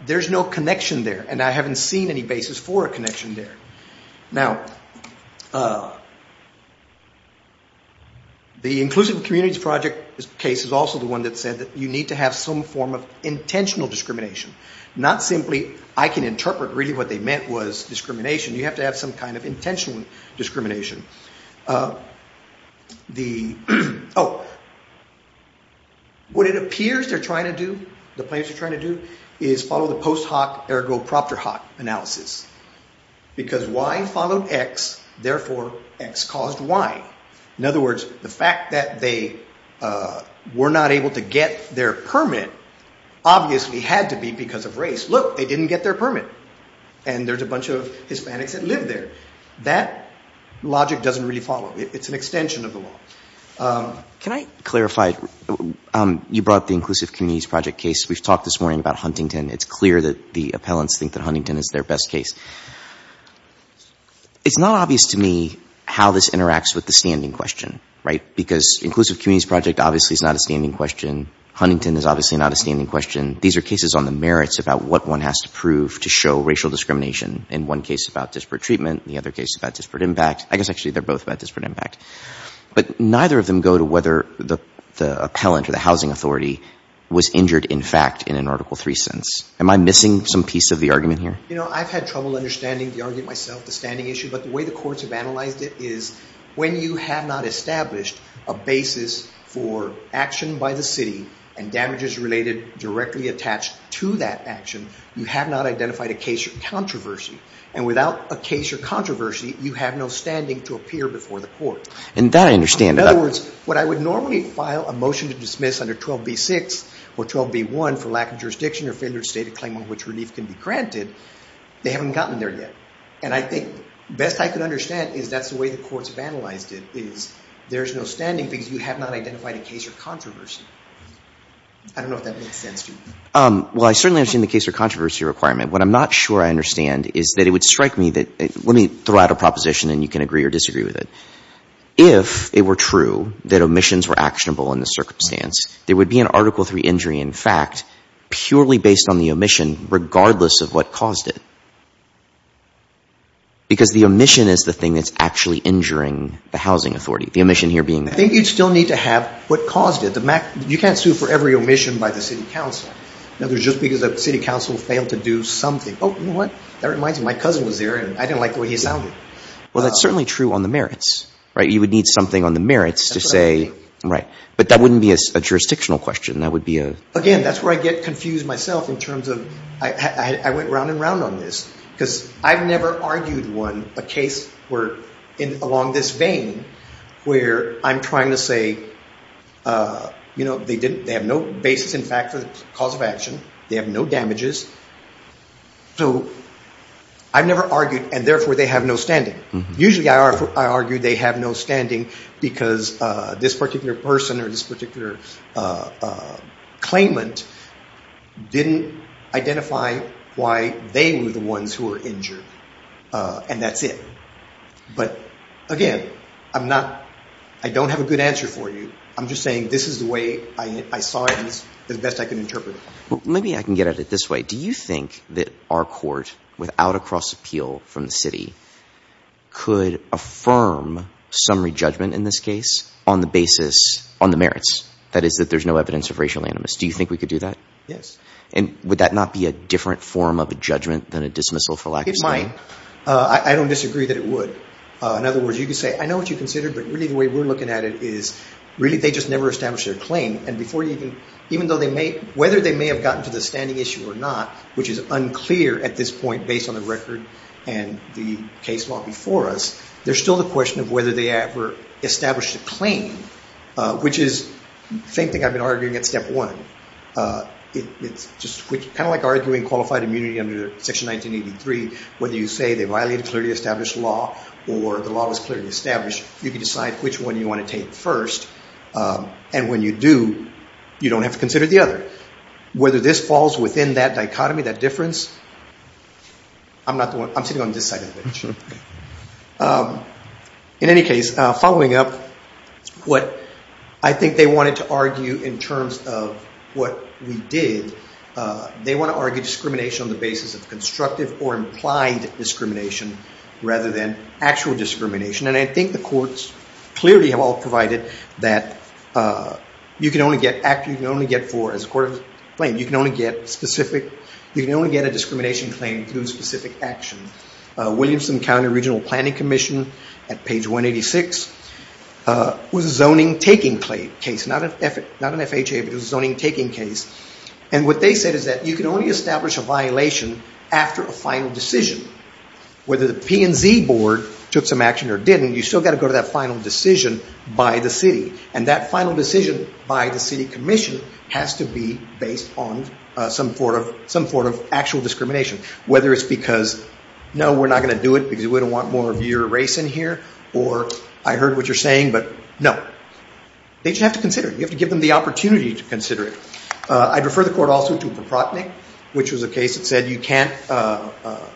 There's no connection there, and that's what we're talking about. The Inclusive Communities Project case is also the one that said that you need to have some form of intentional discrimination. Not simply, I can interpret really what they meant was discrimination. You have to have some kind of intentional discrimination. The... Oh. What it appears they're trying to do, the plaintiffs are trying to do, is follow the post hoc ergo X caused Y. In other words, the fact that they were not able to get their permit obviously had to be because of race. Look, they didn't get their permit, and there's a bunch of Hispanics that live there. That logic doesn't really follow. It's an extension of the law. Can I clarify? You brought the Inclusive Communities Project case. We've talked this morning about Huntington. It's clear that the appellants think that Huntington is their best case. It's not obvious to me how this interacts with the standing question, right? Because Inclusive Communities Project obviously is not a standing question. Huntington is obviously not a standing question. These are cases on the merits about what one has to prove to show racial discrimination. In one case about disparate treatment, in the other case about disparate impact. I guess actually they're both about disparate impact. But neither of them go to whether the appellant or the housing authority I have a little understanding, to argue it myself, the standing issue. But the way the courts have analyzed it is when you have not established a basis for action by the city and damages related directly attached to that action, you have not identified a case or controversy. And without a case or controversy, you have no standing to appear before the court. And that I understand. In other words, what I would normally file a motion to dismiss under 12b-6 or 12b-1 has not gotten there yet. And I think, best I can understand is that's the way the courts have analyzed it is there's no standing because you have not identified a case or controversy. I don't know if that makes sense to you. Well, I certainly understand the case or controversy requirement. What I'm not sure I understand is that it would strike me that, let me throw out a proposition and you can agree or disagree with it. If it were true that omissions were actionable in this circumstance, there would be an Article III injury in fact because the omission is the thing that's actually injuring the housing authority. The omission here being that. I think you'd still need to have what caused it. You can't sue for every omission by the City Council. Now, there's just because the City Council failed to do something. Oh, you know what? That reminds me, my cousin was there and I didn't like the way he sounded. Well, that's certainly true on the merits, right? You would need something on the merits to say, right. But that wouldn't be a jurisdictional question. That would be a... I went round and round on this because I've never argued one, a case where along this vein where I'm trying to say, you know, they have no basis in fact for the cause of action. They have no damages. So, I've never argued and therefore they have no standing. Usually I argue they have no standing because this particular person or this particular claimant didn't identify why they were the ones who were injured and that's it. But again, I'm not... I don't have a good answer for you. I'm just saying this is the way I saw it and it's the best I can interpret it. Well, maybe I can get at it this way. Do you think that our court without a cross appeal from the city could affirm summary judgment in this case on the basis, on the merits? That is, that there's no evidence of racial animus. Do you think we could do that? And would that not be a different form of a judgment than a dismissal for lack of saying? It might. I don't disagree that it would. In other words, you could say, I know what you considered, but really the way we're looking at it is really they just never established their claim and before even... even though they may... whether they may have gotten to the standing issue or not, which is unclear at this point there's still the question of whether they ever established a claim, which is the same thing I've been arguing at step one. It's just kind of like arguing qualified immunity under Section 1983. Whether you say they violate a clearly established law or the law is clearly established, you can decide which one you want to take first and when you do, you don't have to consider the other. Whether this falls within that dichotomy, that difference, I'm sitting on this side of the bench. In any case, following up what I think they wanted to argue in terms of what we did, they want to argue discrimination on the basis of constructive or implied discrimination rather than actual discrimination and I think the courts clearly have all provided that you can only get... you can only get four as a court of claim. You can only get specific... you can only get a discrimination claim through specific action. Williamson County Regional Planning Commission at page 186 was a zoning taking case. Not an FHA, but it was a zoning taking case and what they said is that you can only establish a violation after a final decision. Whether the P&Z board took some action or didn't, you still got to go to that final decision by the city and that final decision by the city commission has to be based on some sort of actual discrimination. Whether it's because there's a case in here or I heard what you're saying, but no. They just have to consider it. You have to give them the opportunity to consider it. I'd refer the court also to Proprotnik which was a case that said you can't...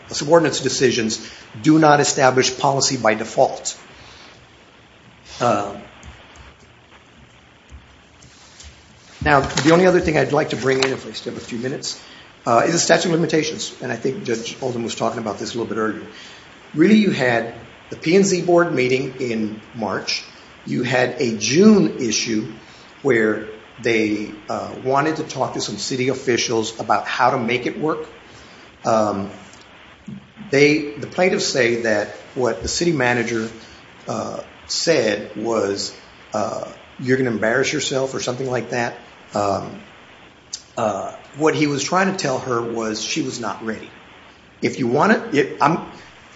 subordinates' decisions do not establish policy by default. I'd like to bring in if I still have a few minutes is the statute of limitations for the P&Z board meeting in March. You had a June issue where they wanted to talk to some city officials about how to make it work. The plaintiffs say that what the city manager said was you're going to embarrass yourself or something like that. What he was trying to tell her was she was not ready.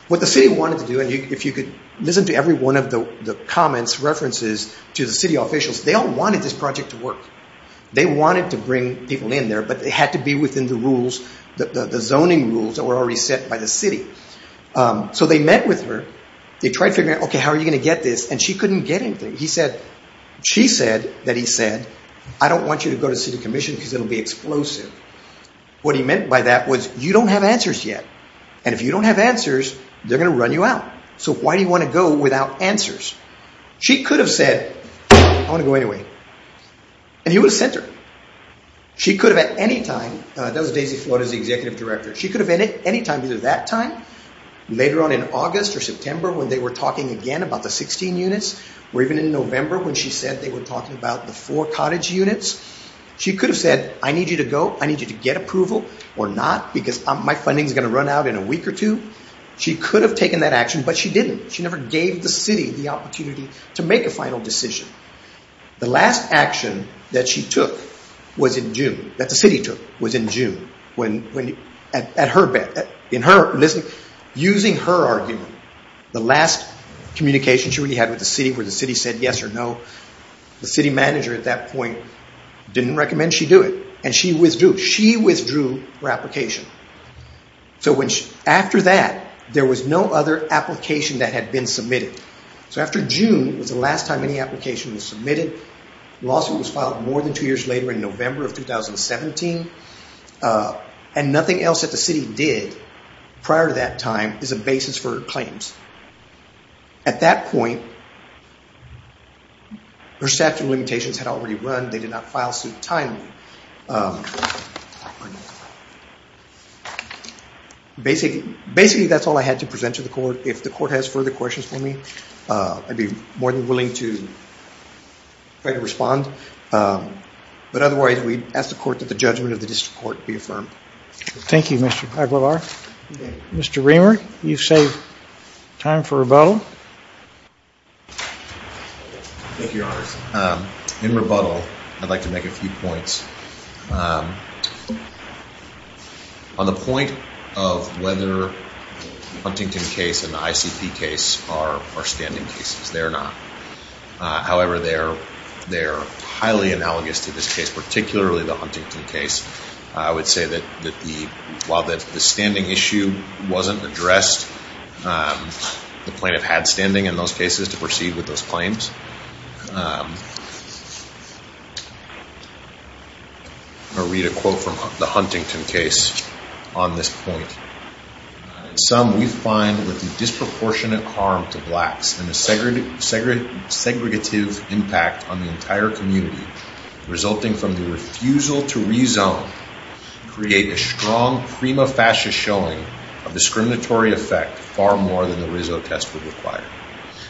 What the city wanted to do was listen to every one of the comments, references to the city officials. They all wanted this project to work. They wanted to bring people in there but they had to be within the rules, the zoning rules that were already set by the city. They met with her. They tried figuring out how are you going to get this and she couldn't get anything. She said that he said I don't want you to go to city commission because it will be explosive. What he meant by that was you don't have answers yet and if you don't have answers they're going to run you out. So why do you want to go without answers? She could have said I want to go anyway and he would have sent her. She could have at any time, that was Daisy Florida's executive director, she could have at any time either that time, later on in August or September when they were talking again about the 16 units or even in November when she said they were talking about the four cottage units. She could have said I need you to go, I need you to get approval or not because my funding is going to run out in a week or two. She could have taken that action but she didn't. She never gave the city the opportunity to make a final decision. The last action that she took was in June, that the city took was in June at her bed, in her listening, using her argument. The last communication she really had with the city where the city said yes or no, the city manager at that point didn't recommend she do it and she withdrew. She withdrew her application. After that, there was no other application that had been submitted. After June was the last time any application was submitted. The lawsuit was filed more than two years later in November of 2017 and nothing else that the city did prior to that time is a basis for claims. At that point, her statute of limitations had already run. They did not file suit timely. Basically, that's all I had to present to the court. If the court has further questions for me, I'd be more than willing to try to respond but otherwise, we'd ask the court that the judgment of the district court be affirmed. Thank you, Mr. Aguilar. Mr. Reamer, you've saved time for rebuttal. Thank you, Your Honor. In rebuttal, I'd like to make a few points. On the point of whether the Huntington case and the ICP case are standing cases, they're not. However, they're highly analogous to this case, particularly the Huntington case. I would say that while the standing issue wasn't addressed, the plaintiff had standing in those cases to proceed with those claims. I'll read a quote from the Huntington case on this point. In sum, we find that the disproportionate harm to blacks and the segregative impact on the entire community resulting from the refusal to rezone create a strong prima facie showing of discriminatory effect far more than the Rizzo test would require.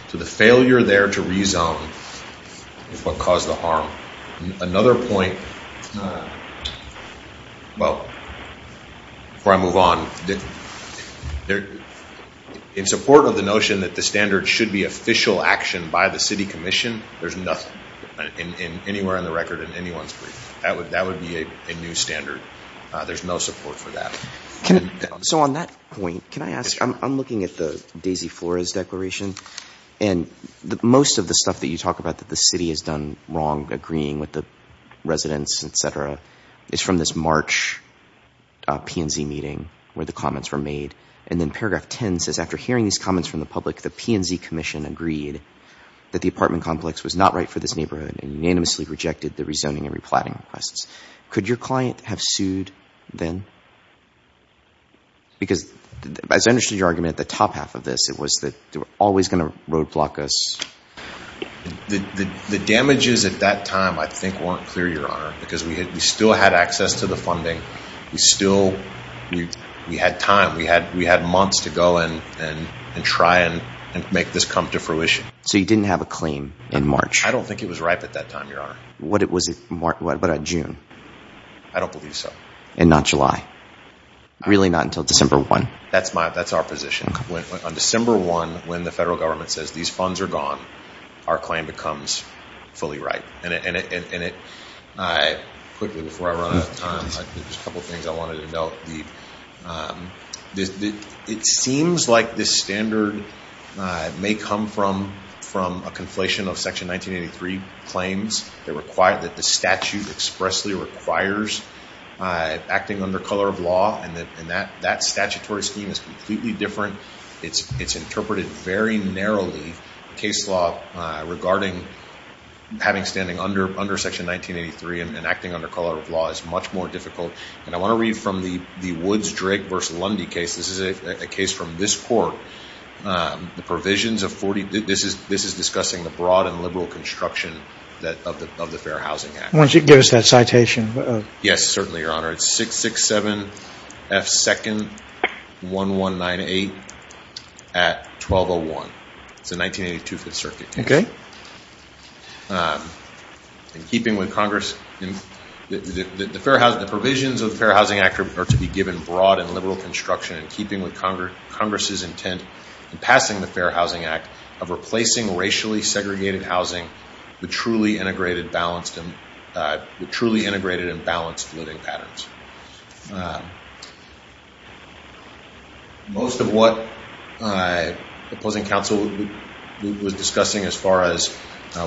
So the failure there to rezone is what caused the harm. Another point, well, before I move on, in support of the notion that the standard should be official action by the city commission, there's nothing anywhere in the record in anyone's brief. That would be a new standard. There's no support for that. So on that point, can I ask, I'm looking at the Daisy Flores declaration and most of the stuff that you talk about that the city has done wrong agreeing with the residents, et cetera, is from this March PNZ meeting where the comments were made. And then paragraph 10 says after hearing these comments from the public, the PNZ commission agreed that the apartment complex was not right for this neighborhood and unanimously rejected the rezoning and replatting requests. Could your client have sued then? Because as I understood your argument at the top half of this, it was that they were always going to roadblock us. The damages at that time I think weren't clear, your honor, because we still had access to the funding. We still, we had time. We had months to go and try and make this come to fruition. So you didn't have a claim in March? I don't think it was ripe at that time, your honor. What about June? I don't believe so. And not July? Really not until December 1? That's my, that's our position. On December 1, when the federal government says these funds are gone, our claim becomes fully ripe. And it, quickly, before I run out of time, there's a couple things I wanted to note. It seems like this standard may come from a conflation of section 1983 claims that require, that the statute expressly requires acting under color of law, and that statutory scheme is completely different. It's interpreted very narrowly. Case law regarding having standing under section 1983 and acting under color of law is much more difficult. And I want to read from the Woods-Drake v. Lundy case. This is a case from this court. The provisions of 40, this is discussing the broad and liberal construction that, of the Fair Housing Act. Why don't you give us that citation? Yes, certainly, Your Honor. It's 667 F. 2nd 1198 at 1201. It's the 1982 5th Circuit case. Okay. In keeping with Congress, the provisions of the Fair Housing Act are to be given broad and liberal construction. In keeping with Congress's intent in passing the Fair Housing Act, of replacing racially segregated housing with truly integrated and balanced living patterns. Most of what the opposing counsel was discussing as far as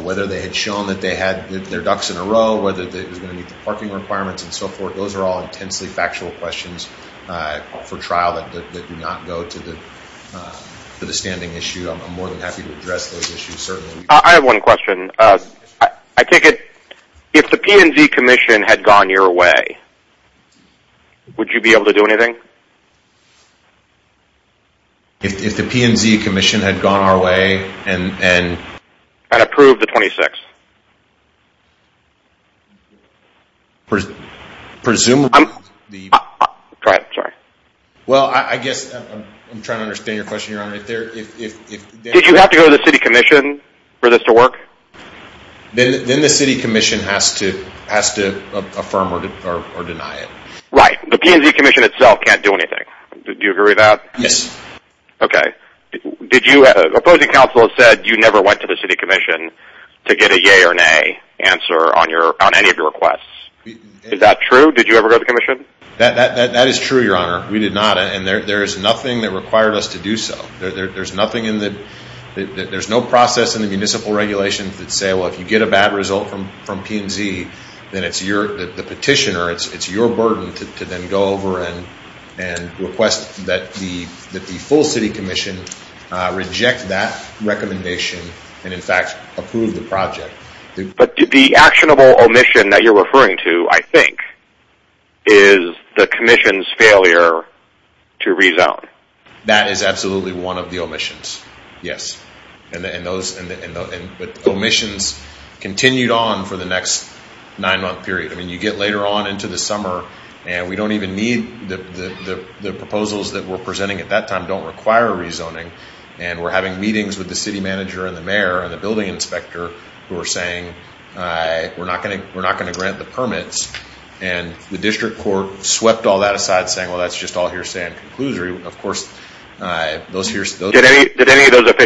whether they had shown that they had their ducks in a row, whether it was going to meet the parking requirements, and so forth, those are all intensely factual questions for trial that do not go to the standing issue. I'm more than happy to address those issues. I have one question. I take it if the P&Z Commission had gone your way, would you be able to do anything? If the P&Z Commission had gone our way and... And approved the 26th? Presumably... Go ahead. Sorry. Well, I guess I'm trying to understand your question, Your Honor. Did you have to go to the City Commission for this to work? Then the City Commission has to affirm or deny it. Right. The P&Z Commission itself can't do anything. Do you agree with that? Yes. Okay. Did you... Opposing counsel said you never went to the City Commission to get a yea or nay answer on any of your requests. Is that true? Did you ever go to the Commission? That is true, Your Honor. We did not. And there is nothing that required us to do so. There is nothing in the... There is no process in the municipal regulations that say, well, if you get a bad result from P&Z, then it's your... The petitioner, it's your burden to then go over and request that the full City Commission reject that recommendation and, in fact, approve the project. But the actionable omission that you're referring to, I think, is the Commission's failure to rezone. That is absolutely one of the omissions, yes. And those omissions continued on for the next nine-month period. I mean, you get later on into the summer, and we don't even need the proposals that we're presenting at that time don't require rezoning, and we're having meetings with the City Manager and the Mayor and the Building Inspector who are saying, we're not going to grant the permits, and the District Court swept all that aside saying, well, that's just all hearsay and that's all hearsay. So, if we had 15 and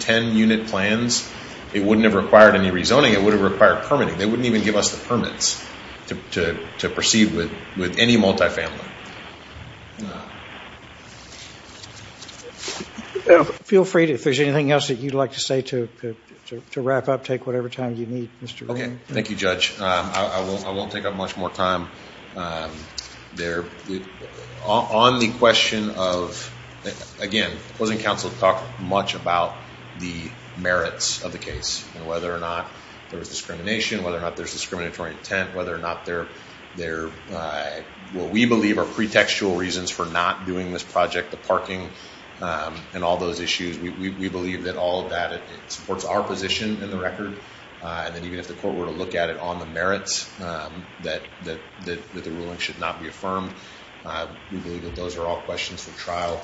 10 unit plans, it wouldn't have required rezoning, it would have required permitting. They wouldn't even give us the permits to proceed with any multifamily. Feel free if there's anything else you'd like to say to wrap up, take whatever time you need. Thank you, Judge. I won't take up much more time. On the question of, again, wasn't Council talking much about the merits of the case and whether or not there's discrimination, whether or not there's discriminatory intent, whether or not the merits are there, what we believe are pretextual reasons for not doing this project, the parking and all those issues. We believe it supports our position in the record and even if the court were to look at it on the merits, the ruling should not be affirmed. Those are all questions for trial.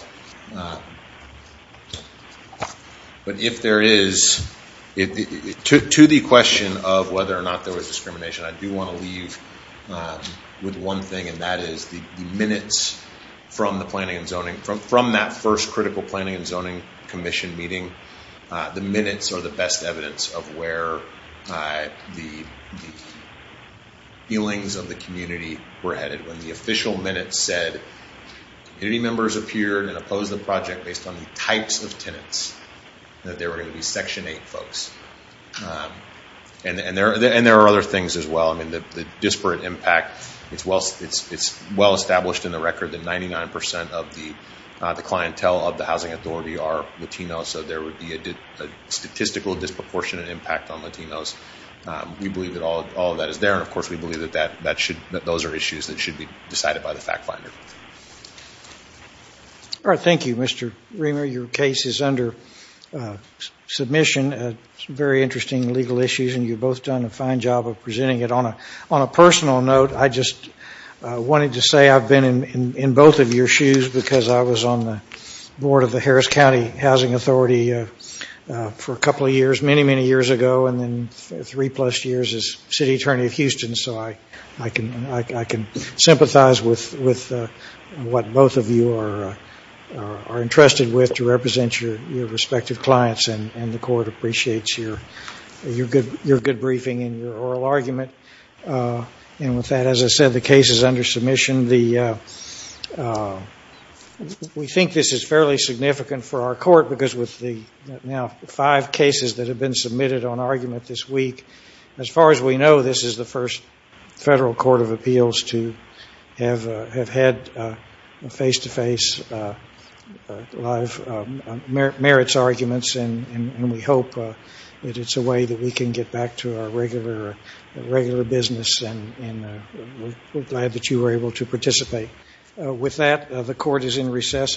But if there is to the question of whether or not there was discrimination, I do want to leave with one thing and that is the minutes from that first critical planning and zoning commission meeting, the minutes are the best evidence of where the feelings of the community were headed. When the official minutes said any members appeared and said they were going to propose the project based on the types of tenants that there were going to be section 8 folks. And there are other things as well. The disparate impact, it's well established in the record that 99% of the clientele of the housing authority are Latinos. So there would be a statistical disproportionate impact on Latinos. We believe that all of that is there and those are issues that should be decided by the fact finder. Thank you, Mr. Reamer, your case is under submission. Very interesting legal issues and you have been a member of the county housing authority for a couple of years, many years ago and three plus years as city attorney of Houston so I can sympathize with what both of you are interested with to represent your clients and the court appreciates your good briefing and your oral argument and with that, as I said, the case is under submission. We think this is fairly significant for our court because with the five cases that have been submitted on argument this week, as far as we know, this is the first federal court of appeals to have had face-to-face live merits arguments and we hope that it's a way that we can get back to our regular business and we're glad that you were able to participate. With that, the court is in recess.